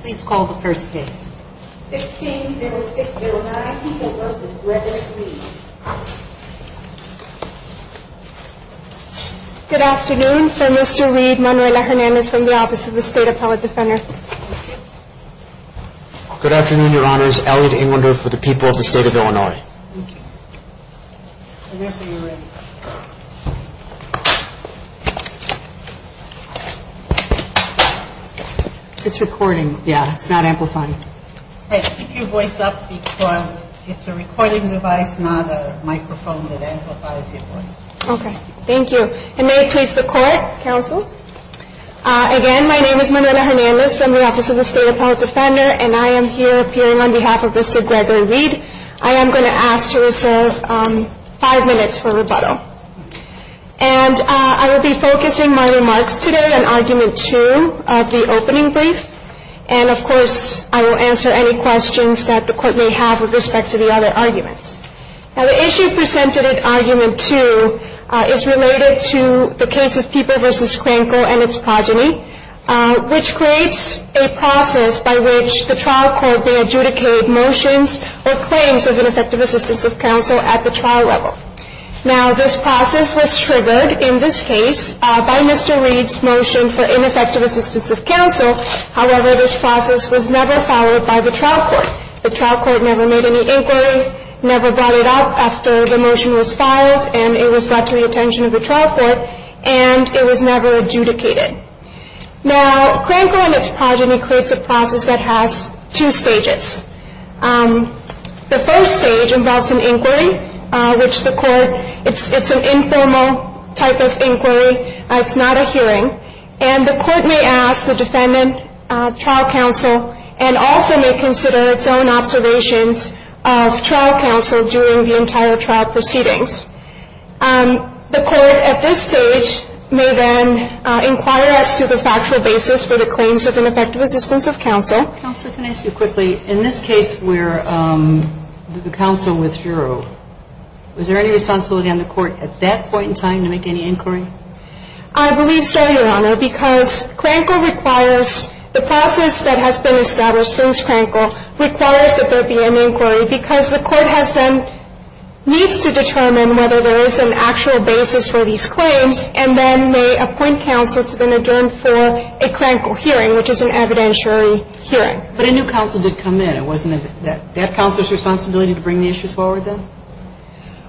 Please call the first case. 16-06-009 Elliott vs. Gregory Reed. Good afternoon. For Mr. Reed, Manuela Hernandez from the Office of the State Appellate Defender. Good afternoon, Your Honors. Elliott Englander for the people of the State of Illinois. Thank you. It's recording. Yeah, it's not amplifying. Keep your voice up because it's a recording device, not a microphone that amplifies your voice. Okay. Thank you. And may it please the Court, Counsel. Again, my name is Manuela Hernandez from the Office of the State Appellate Defender and I am here appearing on behalf of Mr. Gregory Reed. I am going to ask to reserve five minutes for rebuttal. And I will be focusing my remarks today on Argument 2 of the opening brief. And, of course, I will answer any questions that the Court may have with respect to the other arguments. Now, the issue presented at Argument 2 is related to the case of Pieper v. Krankel and its progeny, which creates a process by which the trial court may adjudicate motions or claims of ineffective assistance of counsel at the trial level. Now, this process was triggered in this case by Mr. Reed's motion for ineffective assistance of counsel. However, this process was never followed by the trial court. The trial court never made any inquiry, never brought it up after the motion was filed, and it was brought to the attention of the trial court, and it was never adjudicated. Now, Krankel and its progeny creates a process that has two stages. The first stage involves an inquiry, which the Court, it's an informal type of inquiry. It's not a hearing. And the Court may ask the defendant, trial counsel, and also may consider its own observations of trial counsel during the entire trial proceedings. The Court at this stage may then inquire as to the factual basis for the claims of ineffective assistance of counsel. Counsel, can I ask you quickly, in this case where the counsel withdrew, was there any responsibility on the Court at that point in time to make any inquiry? I believe so, Your Honor, because Krankel requires, the process that has been established since Krankel requires that there be an inquiry because the Court has been, needs to determine whether there is an actual basis for these claims and then may appoint counsel to then adjourn for a Krankel hearing, which is an evidentiary hearing. But a new counsel did come in. It wasn't that counsel's responsibility to bring the issues forward then?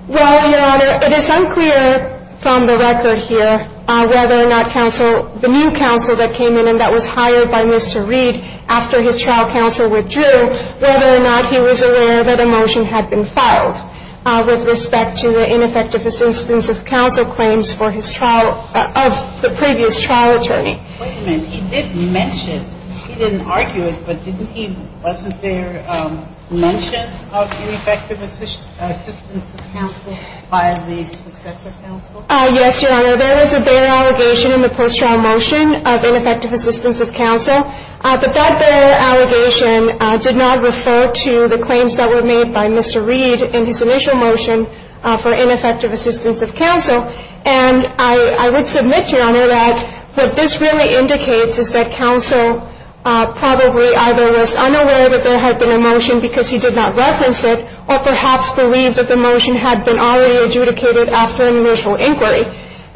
Well, Your Honor, it is unclear from the record here whether or not counsel, the new counsel that came in and that was hired by Mr. Reed after his trial counsel withdrew, whether or not he was aware that a motion had been filed with respect to the ineffective assistance of counsel claims for his trial, of the previous trial attorney. Wait a minute. He did mention, he didn't argue it, but didn't he, wasn't there mention of ineffective assistance of counsel by the successor counsel? Yes, Your Honor. There was a bare allegation in the post-trial motion of ineffective assistance of counsel. But that bare allegation did not refer to the claims that were made by Mr. Reed in his initial motion for ineffective assistance of counsel. And I would submit, Your Honor, that what this really indicates is that counsel probably either was unaware that there had been a motion because he did not reference it or perhaps believed that the motion had been already adjudicated after an initial inquiry.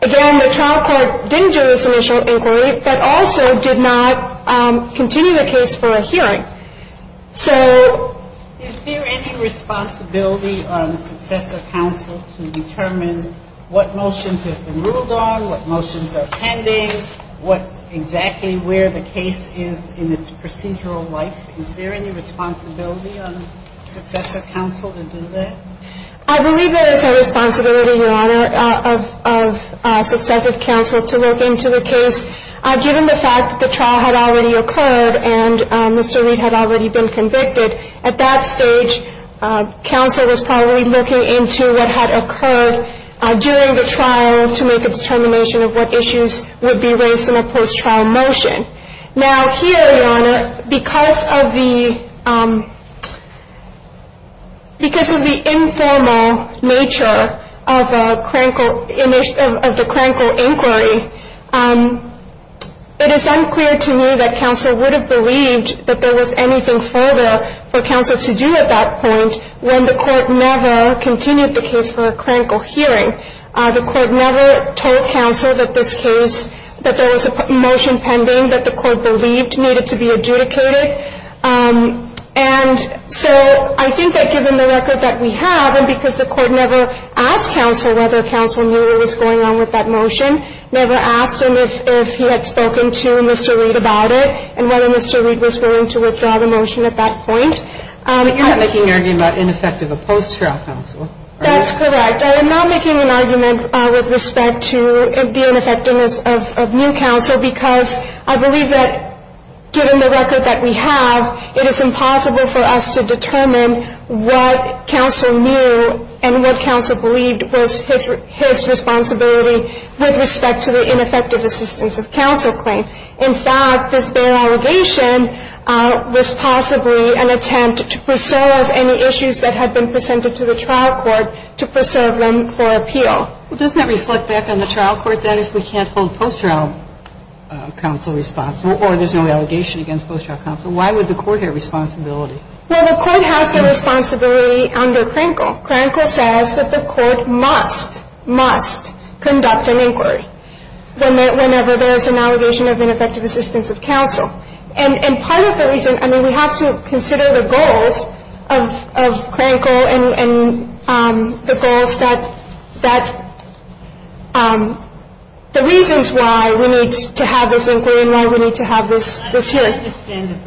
Again, the trial court didn't do this initial inquiry, but also did not continue the case for a hearing. So is there any responsibility on the successor counsel to determine what motions have been ruled on, what motions are pending, what exactly where the case is in its procedural life? Is there any responsibility on the successor counsel to do that? I believe there is a responsibility, Your Honor, of successive counsel to look into the case. Given the fact that the trial had already occurred and Mr. Reed had already been convicted, at that stage counsel was probably looking into what had occurred during the trial to make a determination of what issues would be raised in a post-trial motion. Now, here, Your Honor, because of the informal nature of the crankle inquiry, it is unclear to me that counsel would have believed that there was anything further for counsel to do at that point when the court never continued the case for a crankle hearing. The court never told counsel that this case, that there was a motion pending that the court believed needed to be adjudicated. And so I think that given the record that we have, and because the court never asked counsel whether counsel knew what was going on with that motion, never asked him if he had spoken to Mr. Reed about it and whether Mr. Reed was willing to withdraw the motion at that point. You're not making an argument about ineffective of post-trial counsel, are you? That's correct. I am not making an argument with respect to the ineffectiveness of new counsel because I believe that given the record that we have, it is impossible for us to determine what counsel knew and what counsel believed was his responsibility with respect to the ineffective assistance of counsel claim. In fact, this bail allegation was possibly an attempt to preserve any issues that had been presented to the trial court to preserve them for appeal. Well, doesn't that reflect back on the trial court that if we can't hold post-trial counsel responsible or there's no allegation against post-trial counsel, why would the court have responsibility? Well, the court has the responsibility under crankle. Crankle says that the court must, must conduct an inquiry. The court has the responsibility to conduct an inquiry. The court has the responsibility to conduct an inquiry whenever there's an allegation of ineffective assistance of counsel. And part of the reason, I mean, we have to consider the goals of crankle and the goals that, that the reasons why we need to have this inquiry and why we need to have this hearing. I understand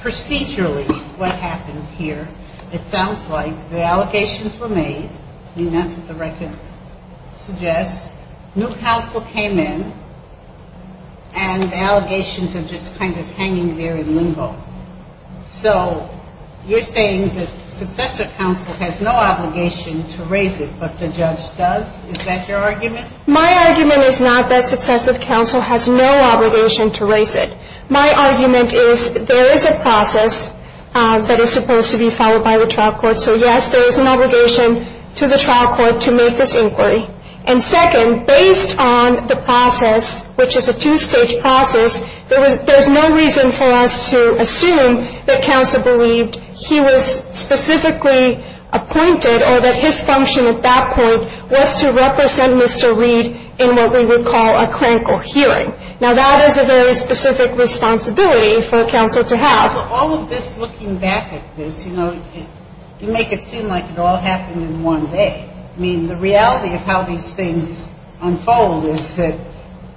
procedurally what happened here. It sounds like the allegations were made. I mean, that's what the record suggests. New counsel came in, and the allegations are just kind of hanging there in limbo. So you're saying that successive counsel has no obligation to raise it, but the judge does? Is that your argument? My argument is not that successive counsel has no obligation to raise it. My argument is there is a process that is supposed to be followed by the trial court. So, yes, there is an obligation to the trial court to make this inquiry. And second, based on the process, which is a two-stage process, there's no reason for us to assume that counsel believed he was specifically appointed or that his function at that point was to represent Mr. Reed in what we would call a crankle hearing. Now, that is a very specific responsibility for counsel to have. But all of this, looking back at this, you know, you make it seem like it all happened in one day. I mean, the reality of how these things unfold is that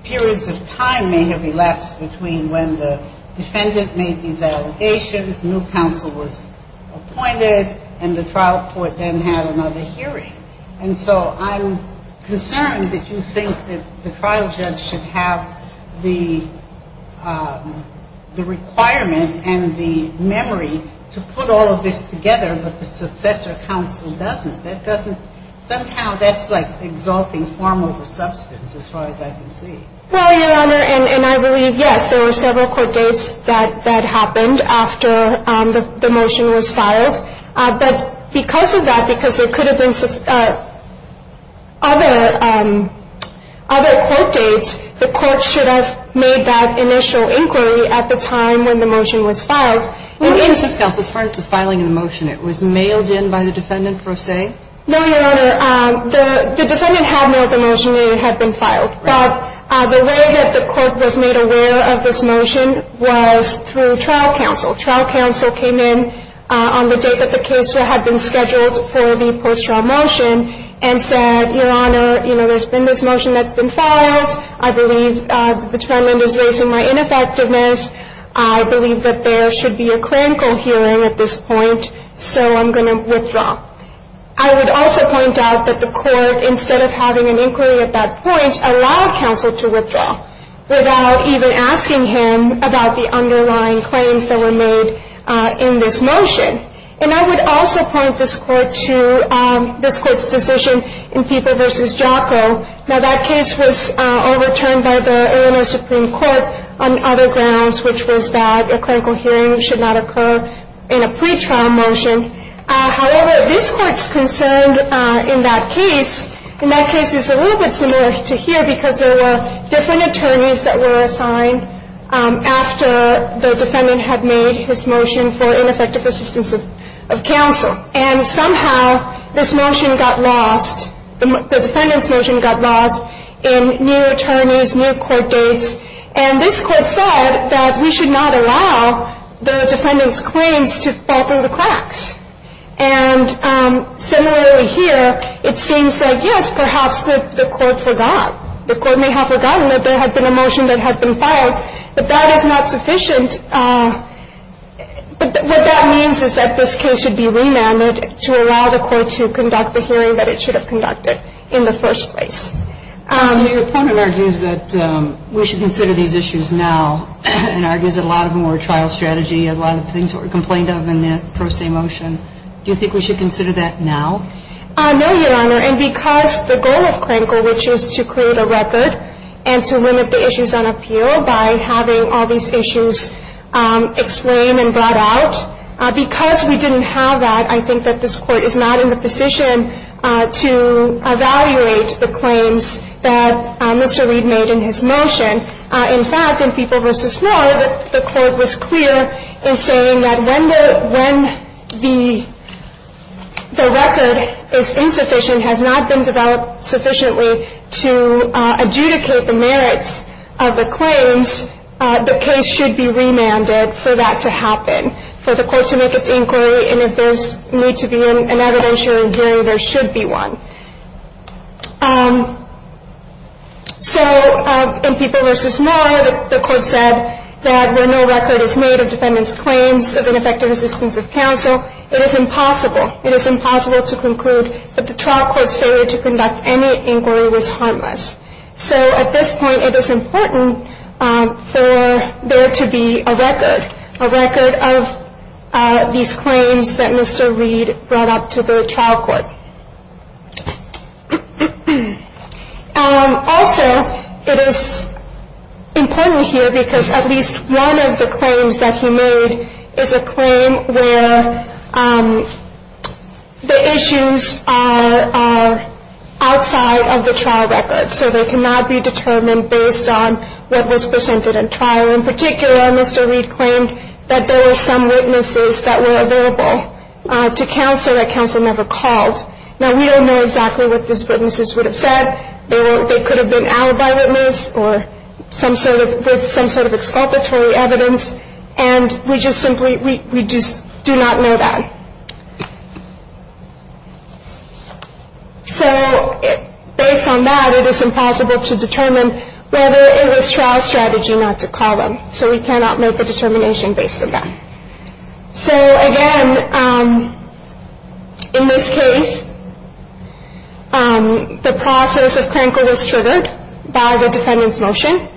periods of time may have elapsed between when the defendant made these allegations, new counsel was appointed, and the trial court then had another hearing. And so I'm concerned that you think that the trial judge should have the requirement and the memory to put all of this together, but the successor counsel doesn't. That doesn't – somehow that's like exalting form over substance as far as I can see. Well, Your Honor, and I believe, yes, there were several court dates that happened after the motion was filed. But because of that, because there could have been other court dates, the court should have made that initial inquiry at the time when the motion was filed. And in this case, as far as the filing of the motion, it was mailed in by the defendant, per se? No, Your Honor. The defendant had mailed the motion and it had been filed. But the way that the court was made aware of this motion was through trial counsel. Trial counsel came in on the date that the case had been scheduled for the post-trial motion and said, Your Honor, you know, there's been this motion that's been filed. I believe the defendant is raising my ineffectiveness. I believe that there should be a clinical hearing at this point, so I'm going to withdraw. I would also point out that the court, instead of having an inquiry at that point, allowed counsel to withdraw without even asking him about the underlying claims that were made in this motion. And I would also point this court to this court's decision in People v. Jocko. Now, that case was overturned by the Illinois Supreme Court on other grounds, which was that a clinical hearing should not occur in a pretrial motion. However, this court's concern in that case, in that case it's a little bit similar to here because there were different attorneys that were assigned after the defendant had made his motion for ineffective assistance of counsel. And somehow this motion got lost, the defendant's motion got lost in new attorneys, new court dates. And this court said that we should not allow the defendant's claims to fall through the cracks. And similarly here, it seems that, yes, perhaps the court forgot. The court may have forgotten that there had been a motion that had been filed, but that is not sufficient. What that means is that this case should be remanded to allow the court to conduct the hearing that it should have conducted in the first place. Your opponent argues that we should consider these issues now and argues that a lot of them were trial strategy, a lot of things that were complained of in the pro se motion. Do you think we should consider that now? No, Your Honor. And because the goal of Crankle, which is to create a record and to limit the issues on appeal by having all these issues explained and brought out, because we didn't have that, I think that this court is not in the position to evaluate the claims that Mr. Reed made in his motion. In fact, in Feeble v. Moore, the court was clear in saying that when the record is insufficient, has not been developed sufficiently to adjudicate the merits of the claims, the case should be remanded for that to happen, for the court to make its inquiry, and if there's need to be an evidentiary hearing, there should be one. So in Feeble v. Moore, the court said that when no record is made of defendants' claims of ineffective assistance of counsel, it is impossible, it is impossible to conclude that the trial court's failure to conduct any inquiry was harmless. So at this point, it is important for there to be a record, a record of these claims that Mr. Reed brought up to the trial court. Also, it is important here because at least one of the claims that he made is a claim where the issues are outside of the trial record. So they cannot be determined based on what was presented in trial. In particular, Mr. Reed claimed that there were some witnesses that were available to counsel that counsel never called. Now, we don't know exactly what these witnesses would have said. They could have been alibi witnesses or some sort of exculpatory evidence, and we just simply do not know that. So based on that, it is impossible to determine whether it was trial strategy not to call them. So we cannot make a determination based on that. So again, in this case, the process of Krenkel was triggered by the defendant's motion.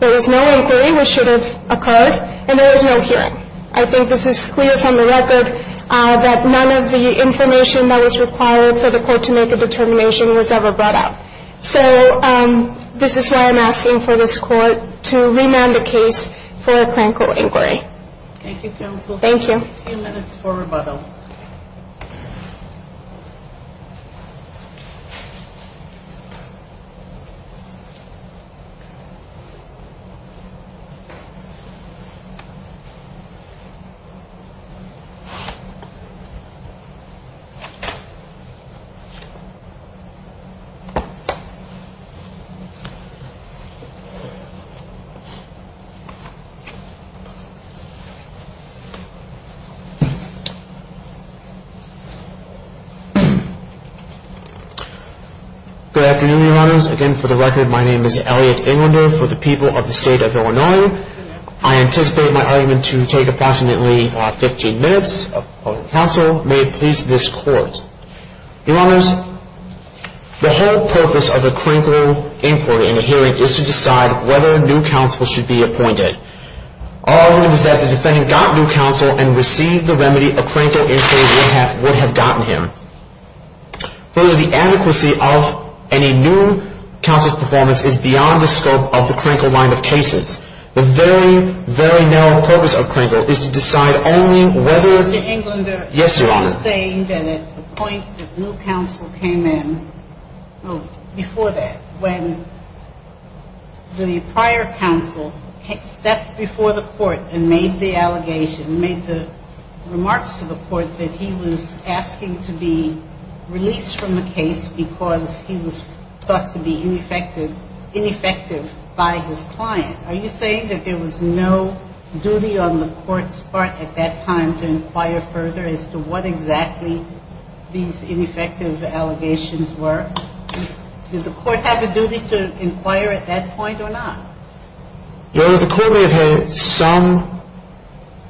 There was no inquiry, which should have occurred, and there was no hearing. I think this is clear from the record that none of the information that was required for the court to make a determination was ever brought up. So this is why I'm asking for this court to remand the case for a Krenkel inquiry. Thank you, counsel. Thank you. A few minutes for rebuttal. Good afternoon, Your Honors. Again, for the record, my name is Elliot Inlander for the people of the State of Illinois. I anticipate my argument to take approximately 15 minutes. Counsel, may it please this court. Your Honors, the whole purpose of a Krenkel inquiry and a hearing is to decide whether a new counsel should be appointed. All I know is that if the defendant got new counsel and received the remedy, a Krenkel inquiry would have gotten him. Further, the adequacy of any new counsel's performance is beyond the scope of the Krenkel line of cases. The very, very narrow purpose of Krenkel is to decide only whether the new counsel should be appointed. Mr. Inlander. Yes, Your Honors. You're saying that at the point that new counsel came in, before that, when the prior counsel stepped before the court and made the allegation, made the remarks to the court that he was asking to be released from the case because he was thought to be ineffective by his client. Are you saying that there was no duty on the court's part at that time to inquire further as to what exactly these ineffective allegations were? Did the court have a duty to inquire at that point or not? Your Honor, the court may have had some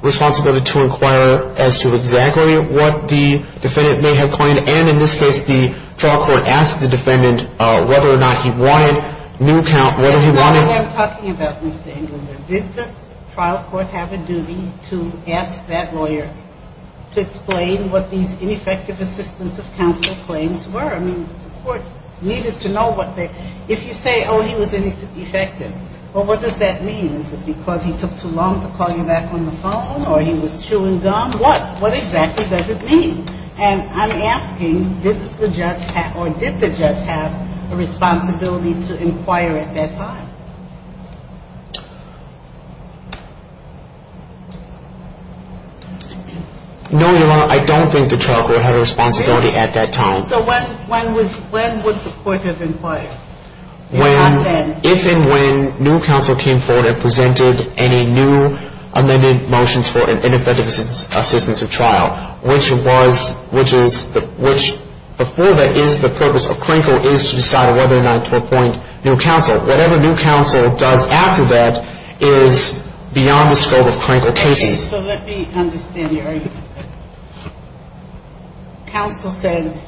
responsibility to inquire as to exactly what the defendant may have claimed. And in this case, the trial court asked the defendant whether or not he wanted new counsel, whether he wanted — That's not what I'm talking about, Mr. Inlander. Did the trial court have a duty to ask that lawyer to explain what these ineffective assistance of counsel claims were? I mean, the court needed to know what they — if you say, oh, he was ineffective, well, what does that mean? Is it because he took too long to call you back on the phone or he was chewing gum? What? What exactly does it mean? And I'm asking, did the judge — or did the judge have a responsibility to inquire at that time? No, Your Honor, I don't think the trial court had a responsibility at that time. So when would the court have inquired? If and when new counsel came forward and presented any new amended motions for ineffective assistance of trial, which was — which is — which before that is the purpose of Crankle is to decide whether or not to appoint new counsel. Whatever new counsel does after that is beyond the scope of Crankle cases. So let me understand your argument. Counsel said,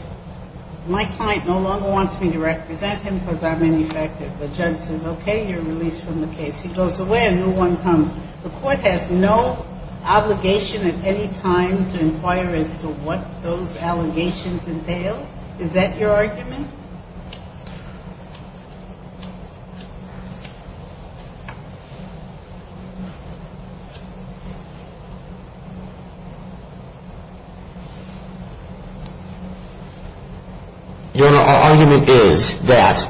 my client no longer wants me to represent him because I'm ineffective. The judge says, okay, you're released from the case. He goes away and a new one comes. The court has no obligation at any time to inquire as to what those allegations entail? Is that your argument? Your Honor, our argument is that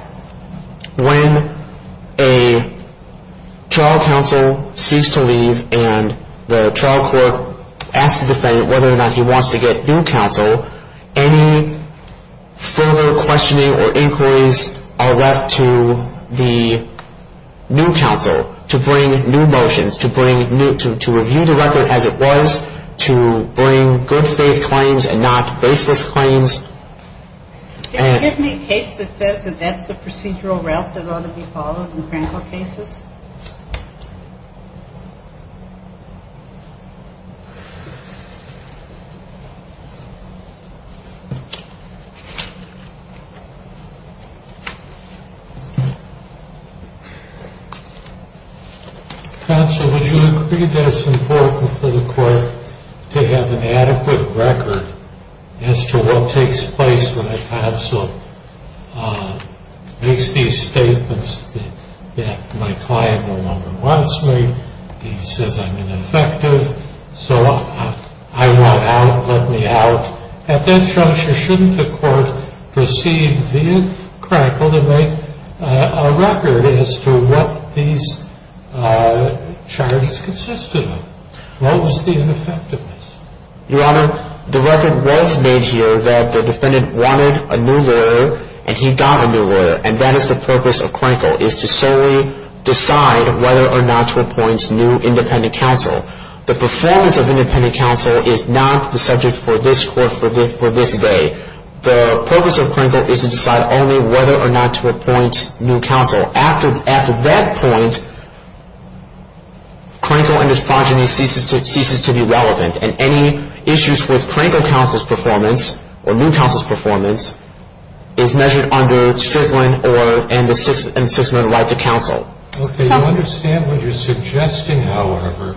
when a trial counsel seeks to leave and the trial court asks the defendant whether or not he wants to get new counsel, any further questioning or inquiries are left to the new counsel to bring new motions, to bring new — to review the record as it was, to bring good faith claims and not baseless claims. Can you give me a case that says that that's the procedural route that ought to be followed in Crankle cases? Counsel, would you agree that it's important for the court to have an adequate record as to what takes place when a counsel makes these statements that my client no longer wants me, he says I'm ineffective, so I want out, let me out? At that juncture, shouldn't the court proceed via Crankle to make a record as to what these charges consisted of? What was the ineffectiveness? Your Honor, the record was made here that the defendant wanted a new lawyer and he got a new lawyer, and that is the purpose of Crankle, is to solely decide whether or not to appoint new independent counsel. The performance of independent counsel is not the subject for this court for this day. The purpose of Crankle is to decide only whether or not to appoint new counsel. After that point, Crankle and his progeny ceases to be relevant, and any issues with Crankle counsel's performance or new counsel's performance is measured under Strickland and the 6th Amendment right to counsel. Okay, you understand what you're suggesting, however,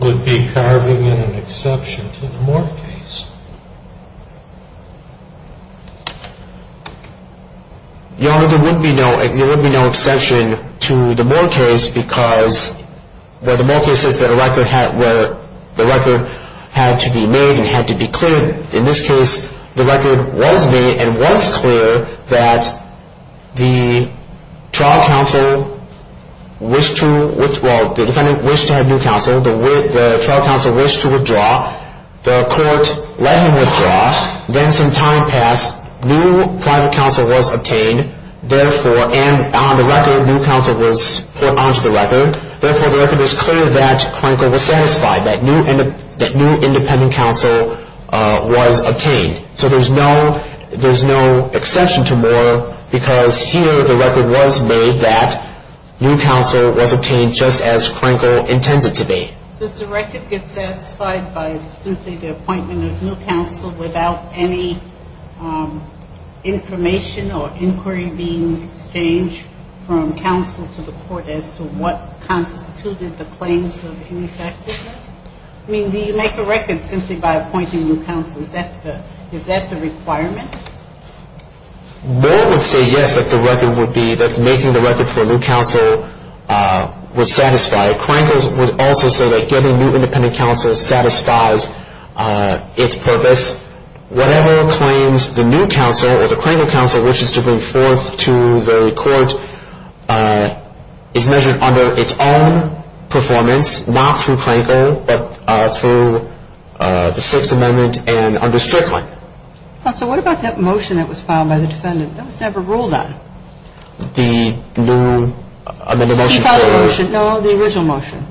would be carving in an exception to the Moore case? Your Honor, there would be no exception to the Moore case because where the Moore case says that the record had to be made and had to be cleared, in this case, the record was made and was clear that the trial counsel wished to, well, the defendant wished to have new counsel, the trial counsel wished to withdraw, the court let him withdraw, then some time passed, new private counsel was obtained, and on the record, new counsel was put onto the record, therefore, the record is clear that Crankle was satisfied, that new independent counsel was obtained. So there's no exception to Moore because here the record was made that new counsel was obtained just as Crankle intends it to be. Does the record get satisfied by simply the appointment of new counsel without any information or inquiry being exchanged from counsel to the court as to what constituted the claims of ineffectiveness? I mean, do you make a record simply by appointing new counsel? Is that the requirement? Moore would say yes, that the record would be that making the record for new counsel was satisfied. Crankle would also say that getting new independent counsel satisfies its purpose. Whatever claims the new counsel or the Crankle counsel wishes to bring forth to the court is measured under its own performance, not through Crankle, but through the Sixth Amendment and under Strickland. Counsel, what about that motion that was filed by the defendant? That was never ruled on. The new motion? No, the original motion.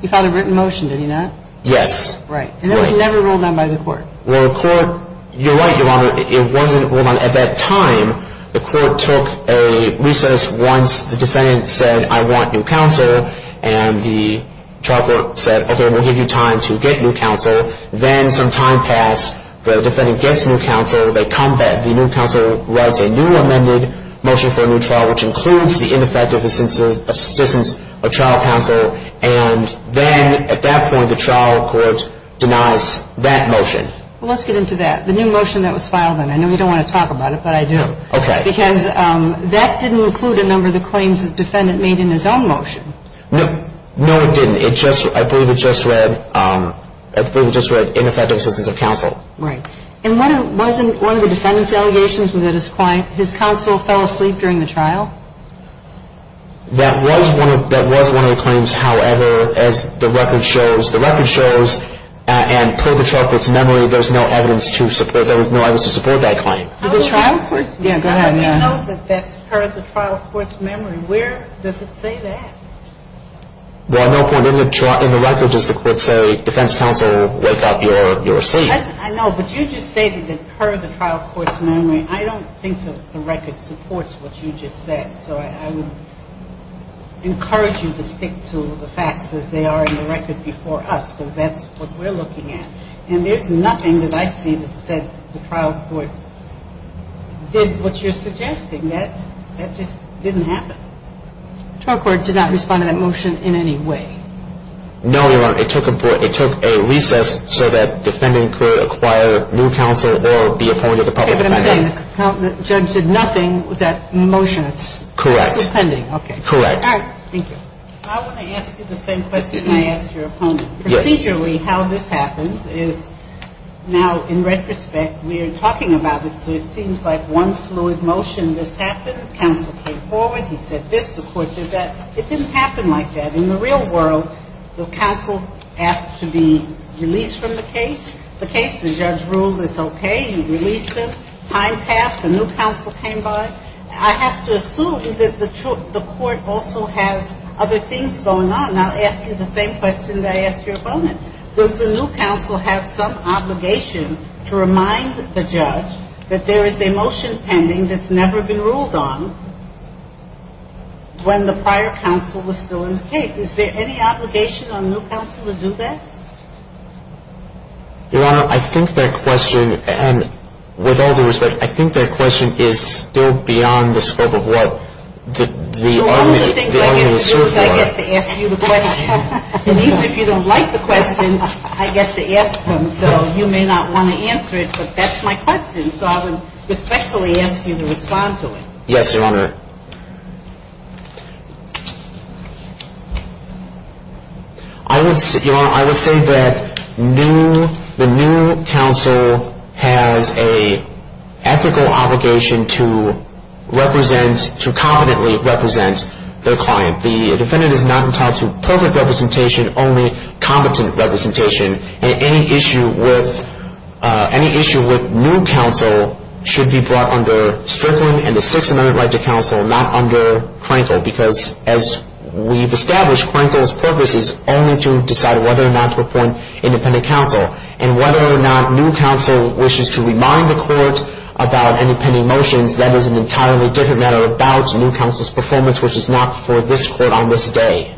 He filed a written motion, did he not? Yes. Right, and that was never ruled on by the court. Well, the court, you're right, Your Honor, it wasn't ruled on. At that time, the court took a recess once the defendant said, I want new counsel, and the trial court said, okay, we'll give you time to get new counsel. Then some time passed. The defendant gets new counsel. They come back. The new counsel writes a new amended motion for a new trial, which includes the ineffective assistance of trial counsel. And then at that point, the trial court denies that motion. Well, let's get into that, the new motion that was filed then. I know you don't want to talk about it, but I do. Okay. Because that didn't include a number of the claims the defendant made in his own motion. No, it didn't. I believe it just read ineffective assistance of counsel. Right. And wasn't one of the defendant's allegations that his counsel fell asleep during the trial? That was one of the claims. However, as the record shows, and per the trial court's memory, there's no evidence to support that claim. The trial court's memory? Yeah, go ahead. How do you know that that's per the trial court's memory? Where does it say that? Well, I know, in the record, does the court say defense counsel, wake up, you're asleep? I know, but you just stated that per the trial court's memory. I don't think the record supports what you just said. So I would encourage you to stick to the facts as they are in the record before us, because that's what we're looking at. And there's nothing that I see that said the trial court did what you're suggesting. That just didn't happen. The trial court did not respond to that motion in any way? No, Your Honor. It took a recess so that defendant could acquire new counsel or be appointed to public defense. Okay, but I'm saying the judge did nothing with that motion. Correct. It's still pending. Correct. All right, thank you. I want to ask you the same question I asked your opponent. Yes. Procedurally, how this happens is now, in retrospect, we're talking about it, so it seems like one fluid motion. This happened. Counsel came forward. He said this. The court did that. It didn't happen like that. In the real world, the counsel asked to be released from the case. The case, the judge ruled it's okay. He released him. Time passed. A new counsel came by. I have to assume that the court also has other things going on. And I'll ask you the same question that I asked your opponent. Does the new counsel have some obligation to remind the judge that there is a motion pending that's never been ruled on when the prior counsel was still in the case? Is there any obligation on new counsel to do that? Your Honor, I think that question, with all due respect, I think that question is still beyond the scope of what the argument is for. I get to ask you the questions. And even if you don't like the questions, I get to ask them. So you may not want to answer it, but that's my question. So I would respectfully ask you to respond to it. Yes, Your Honor. Your Honor, I would say that the new counsel has an ethical obligation to represent, to competently represent their client. The defendant is not entitled to perfect representation, only competent representation. And any issue with new counsel should be brought under Strickland and the Sixth Amendment right to counsel, not under Krenkel. Because as we've established, Krenkel's purpose is only to decide whether or not to appoint independent counsel. And whether or not new counsel wishes to remind the court about any pending motions, that is an entirely different matter about new counsel's performance, which is not before this Court on this day.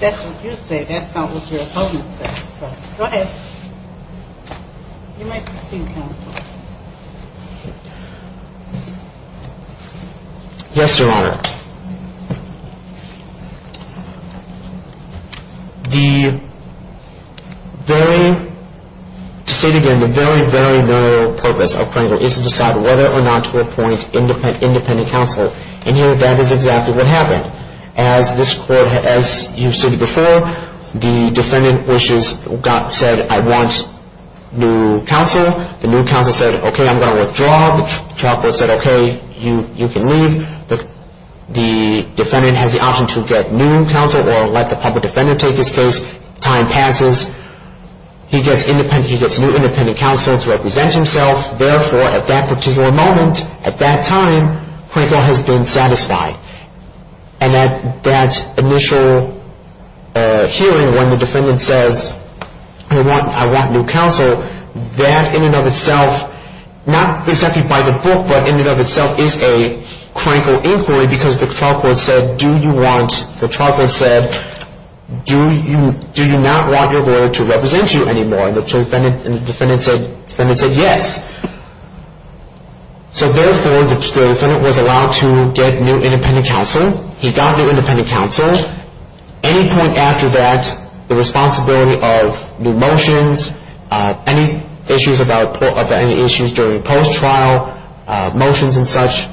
That's what you say. That's not what your opponent says. Go ahead. You might be seeing counsel. Yes, Your Honor. The very, to say it again, the very, very moral purpose of Krenkel is to decide whether or not to appoint independent counsel. And here, that is exactly what happened. As this Court, as you've said before, the defendant wishes, said, I want new counsel. The new counsel said, okay, I'm going to withdraw. The trial court said, okay, you can leave. The defendant has the option to get new counsel or let the public defender take his case. Time passes. He gets new independent counsel to represent himself. Therefore, at that particular moment, at that time, Krenkel has been satisfied. And at that initial hearing, when the defendant says, I want new counsel, that in and of itself, not exactly by the book, but in and of itself is a Krenkel inquiry because the trial court said, do you want, the trial court said, do you not want your lawyer to represent you anymore? And the defendant said, yes. So therefore, the defendant was allowed to get new independent counsel. He got new independent counsel. Any point after that, the responsibility of new motions, any issues about any issues during post-trial motions and such,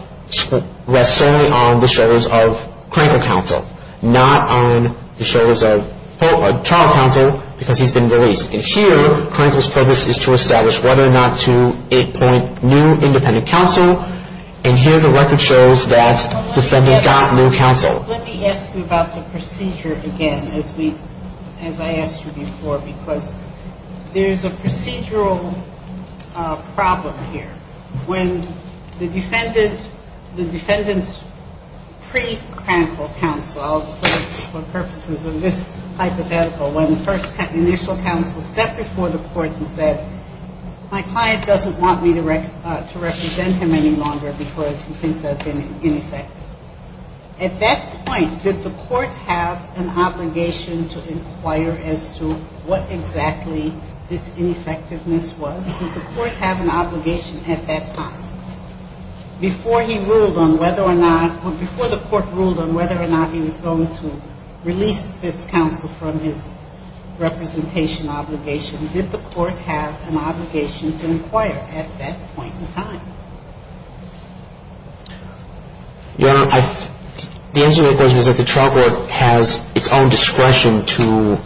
rests solely on the shoulders of Krenkel counsel, not on the shoulders of trial counsel because he's been released. And here, Krenkel's purpose is to establish whether or not to appoint new independent counsel. And here, the record shows that defendant got new counsel. Let me ask you about the procedure again, as we, as I asked you before, because there's a procedural problem here. When the defendant, the defendant's pre-Krenkel counsel, for purposes of this hypothetical, when the first initial counsel stepped before the court and said, my client doesn't want me to represent him any longer because he thinks I've been ineffective. At that point, did the court have an obligation to inquire as to what exactly this ineffectiveness was? Did the court have an obligation at that time before he ruled on whether or not, he was going to release this counsel from his representation obligation? Did the court have an obligation to inquire at that point in time? Your Honor, the answer to that question is that the trial court has its own discretion to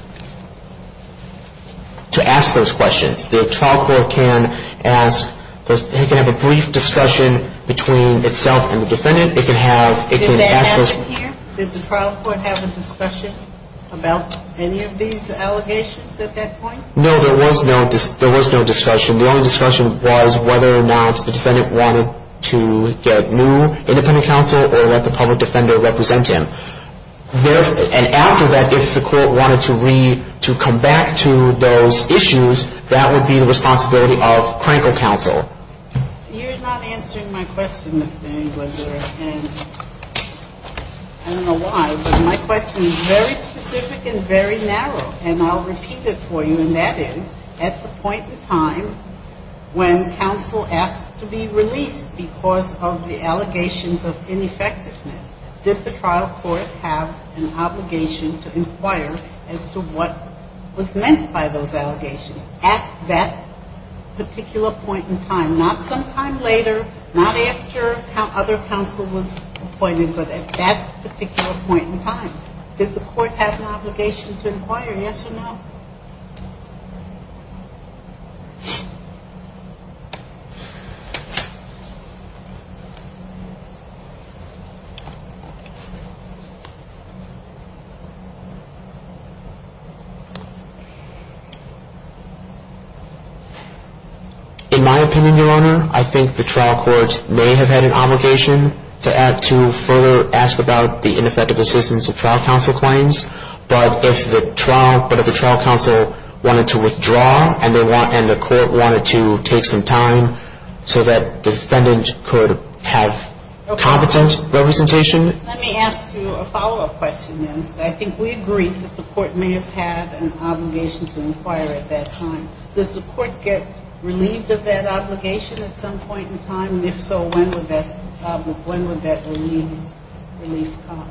ask those questions. The trial court can ask, it can have a brief discussion between itself and the defendant. Your Honor, did the trial court have a discussion about any of these allegations at that point? No, there was no discussion. The only discussion was whether or not the defendant wanted to get new independent counsel or let the public defender represent him. And after that, if the court wanted to read, to come back to those issues, that would be the responsibility of Krenkel counsel. You're not answering my question, Mr. Engler. And I don't know why, but my question is very specific and very narrow, and I'll repeat it for you. And that is, at the point in time when counsel asked to be released because of the allegations of ineffectiveness, did the trial court have an obligation to inquire as to what was meant by those allegations? At that particular point in time. Not sometime later, not after other counsel was appointed, but at that particular point in time. Did the court have an obligation to inquire, yes or no? In my opinion, Your Honor, I think the trial court may have had an obligation to further ask about the ineffective assistance of trial counsel claims. But if the trial counsel wanted to withdraw and the court wanted to take some time so that defendant could have competent representation. Let me ask you a follow-up question then. I think we agreed that the court may have had an obligation to inquire at that time. Does the court get relieved of that obligation at some point in time? And if so, when would that relief come?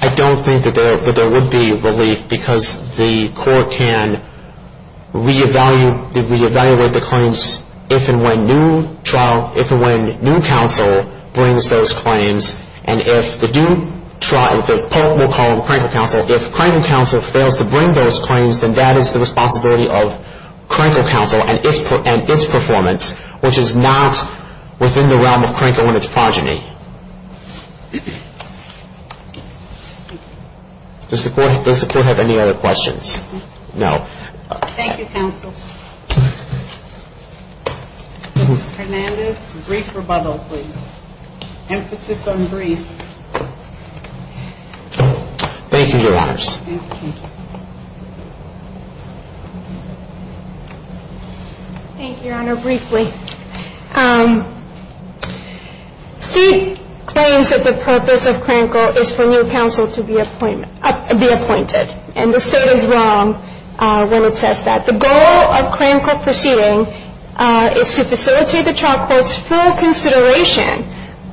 I don't think that there would be relief because the court can re-evaluate the claims if and when new trial, if and when new counsel brings those claims. And if the new trial, if the Pope will call it Crankle Counsel, if Crankle Counsel fails to bring those claims, then that is the responsibility of Crankle Counsel and its performance, which is not within the realm of Crankle and its progeny. Does the court have any other questions? No. Thank you, counsel. Mr. Hernandez, brief rebuttal, please. Emphasis on brief. Thank you, your honors. Thank you, your honor, briefly. State claims that the purpose of Crankle is for new counsel to be appointed. And the state is wrong when it says that. The goal of Crankle pursuing is to facilitate the trial court's full consideration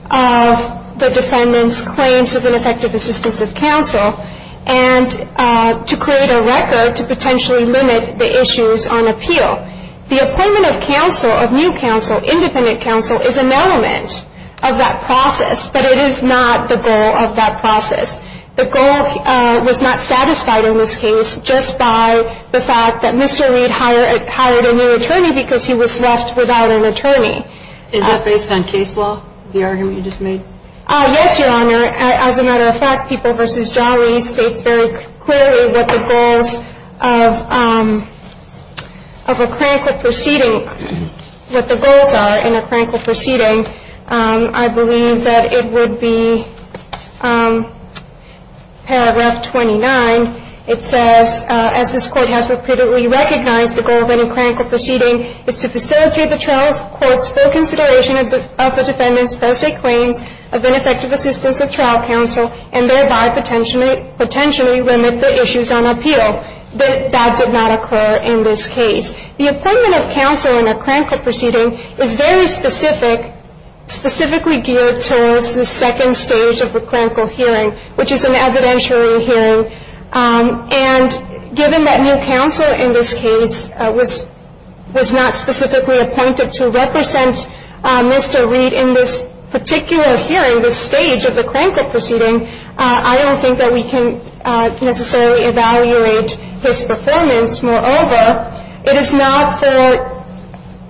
of the defendant's claims of ineffective assistance of counsel and to create a record to potentially limit the issues on appeal. The appointment of counsel, of new counsel, independent counsel, is an element of that process, but it is not the goal of that process. The goal was not satisfied in this case just by the fact that Mr. Reed hired a new attorney because he was left without an attorney. Is that based on case law, the argument you just made? Yes, your honor. As a matter of fact, People v. Jolly states very clearly what the goals of a Crankle proceeding, what the goals are in a Crankle proceeding. I believe that it would be paragraph 29. It says, as this Court has repeatedly recognized, the goal of any Crankle proceeding is to facilitate the trial court's full consideration of the defendant's pro se claims of ineffective assistance of trial counsel and thereby potentially limit the issues on appeal. That did not occur in this case. The appointment of counsel in a Crankle proceeding is very specific, specifically geared towards the second stage of the Crankle hearing, which is an evidentiary hearing. And given that new counsel in this case was not specifically appointed to represent Mr. Reed in this particular hearing, this stage of the Crankle proceeding, I don't think that we can necessarily evaluate his performance. Moreover, it is not for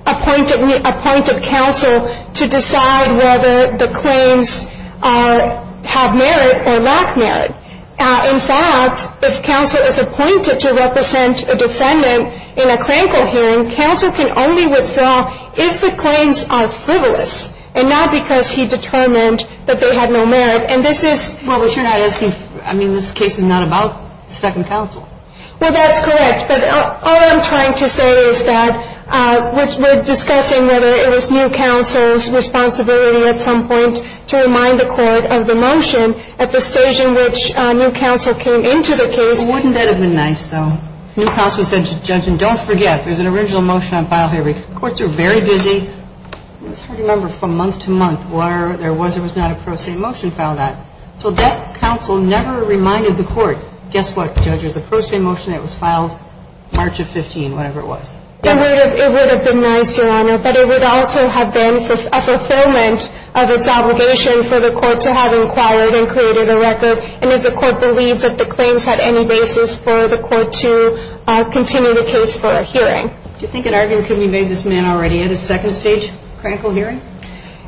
appointed counsel to decide whether the claims have merit or lack merit. In fact, if counsel is appointed to represent a defendant in a Crankle hearing, counsel can only withdraw if the claims are frivolous and not because he determined that they had no merit. And this is — Well, but your honor, I mean, this case is not about second counsel. Well, that's correct. But all I'm trying to say is that we're discussing whether it was new counsel's responsibility at some point to remind the court of the motion at the stage in which new counsel came into the case. Wouldn't that have been nice, though? New counsel said to the judge, and don't forget, there's an original motion on file here. Courts are very busy. It was hard to remember from month to month where there was or was not a pro se motion filed at. So that counsel never reminded the court, guess what? Judge, there's a pro se motion that was filed March of 15, whatever it was. It would have been nice, your honor. But it would also have been a fulfillment of its obligation for the court to have inquired and created a record and if the court believed that the claims had any basis for the court to continue the case for a hearing. Do you think an argument could be made this man already had a second stage Crankle hearing?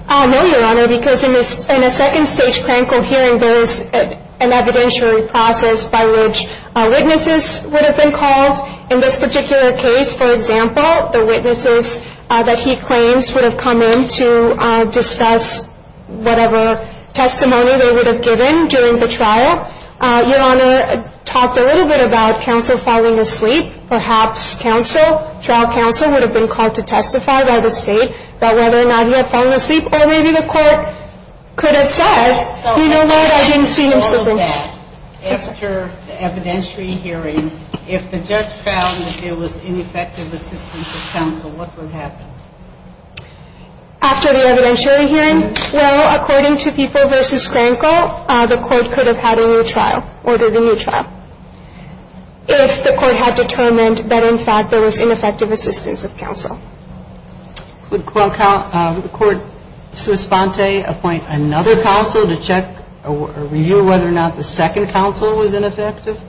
No, your honor, because in a second stage Crankle hearing, there's an evidentiary process by which witnesses would have been called. In this particular case, for example, the witnesses that he claims would have come in to discuss whatever testimony they would have given during the trial. Your honor talked a little bit about counsel falling asleep. Perhaps trial counsel would have been called to testify by the state about whether or not he had fallen asleep or maybe the court could have said, you know what? I didn't see him sleeping. After the evidentiary hearing, if the judge found that there was ineffective assistance of counsel, what would happen? After the evidentiary hearing? Well, according to People v. Crankle, the court could have had a new trial, ordered a new trial. If the court had determined that, in fact, there was ineffective assistance of counsel. Would the court, sui sponte, appoint another counsel to check or review whether or not the second counsel was ineffective?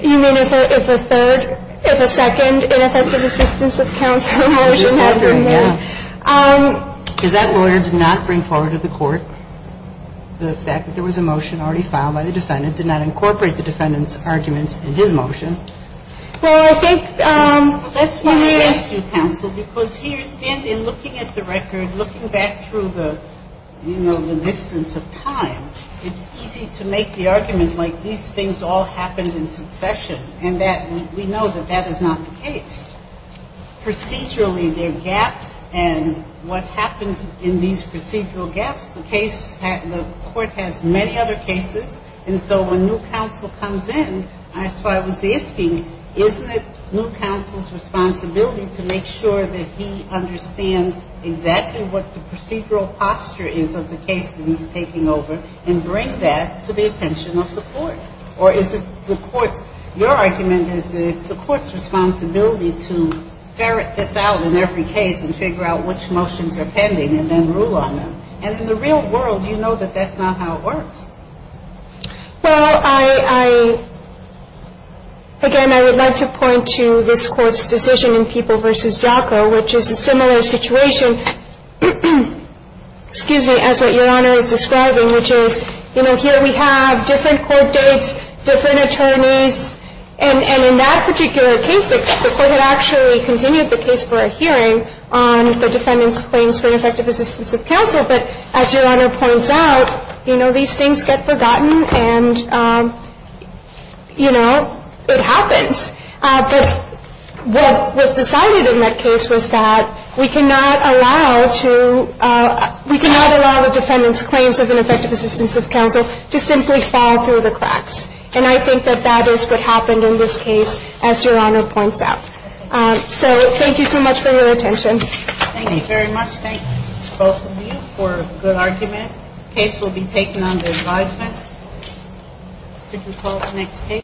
You mean if a third, if a second ineffective assistance of counsel motion happened? Yeah. Because that lawyer did not bring forward to the court the fact that there was a motion already filed by the defendant, did not incorporate the defendant's arguments in his motion. Well, I think that's why we ask you, counsel, because here, standing, looking at the record, looking back through the, you know, the distance of time, it's easy to make the argument like these things all happened in succession and that we know that that is not the case. Procedurally, there are gaps, and what happens in these procedural gaps, the case, the court has many other cases, and so when new counsel comes in, that's why I was asking, isn't it new counsel's responsibility to make sure that he understands exactly what the procedural posture is of the case that he's taking over and bring that to the attention of the court? Or is it the court's, your argument is that it's the court's responsibility to ferret this out in every case and figure out which motions are pending and then rule on them. And in the real world, you know that that's not how it works. Well, I, again, I would like to point to this Court's decision in People v. Jocko, which is a similar situation, excuse me, as what Your Honor is describing, which is, you know, here we have different court dates, different attorneys, and in that particular case, the court had actually continued the case for a hearing on the defendant's claims for ineffective assistance of counsel. But as Your Honor points out, you know, these things get forgotten and, you know, it happens. But what was decided in that case was that we cannot allow to, we cannot allow the defendant's claims of ineffective assistance of counsel to simply fall through the cracks. And I think that that is what happened in this case, as Your Honor points out. So thank you so much for your attention. Thank you very much. Thank both of you for a good argument. The case will be taken under advisement. Could we call the next case?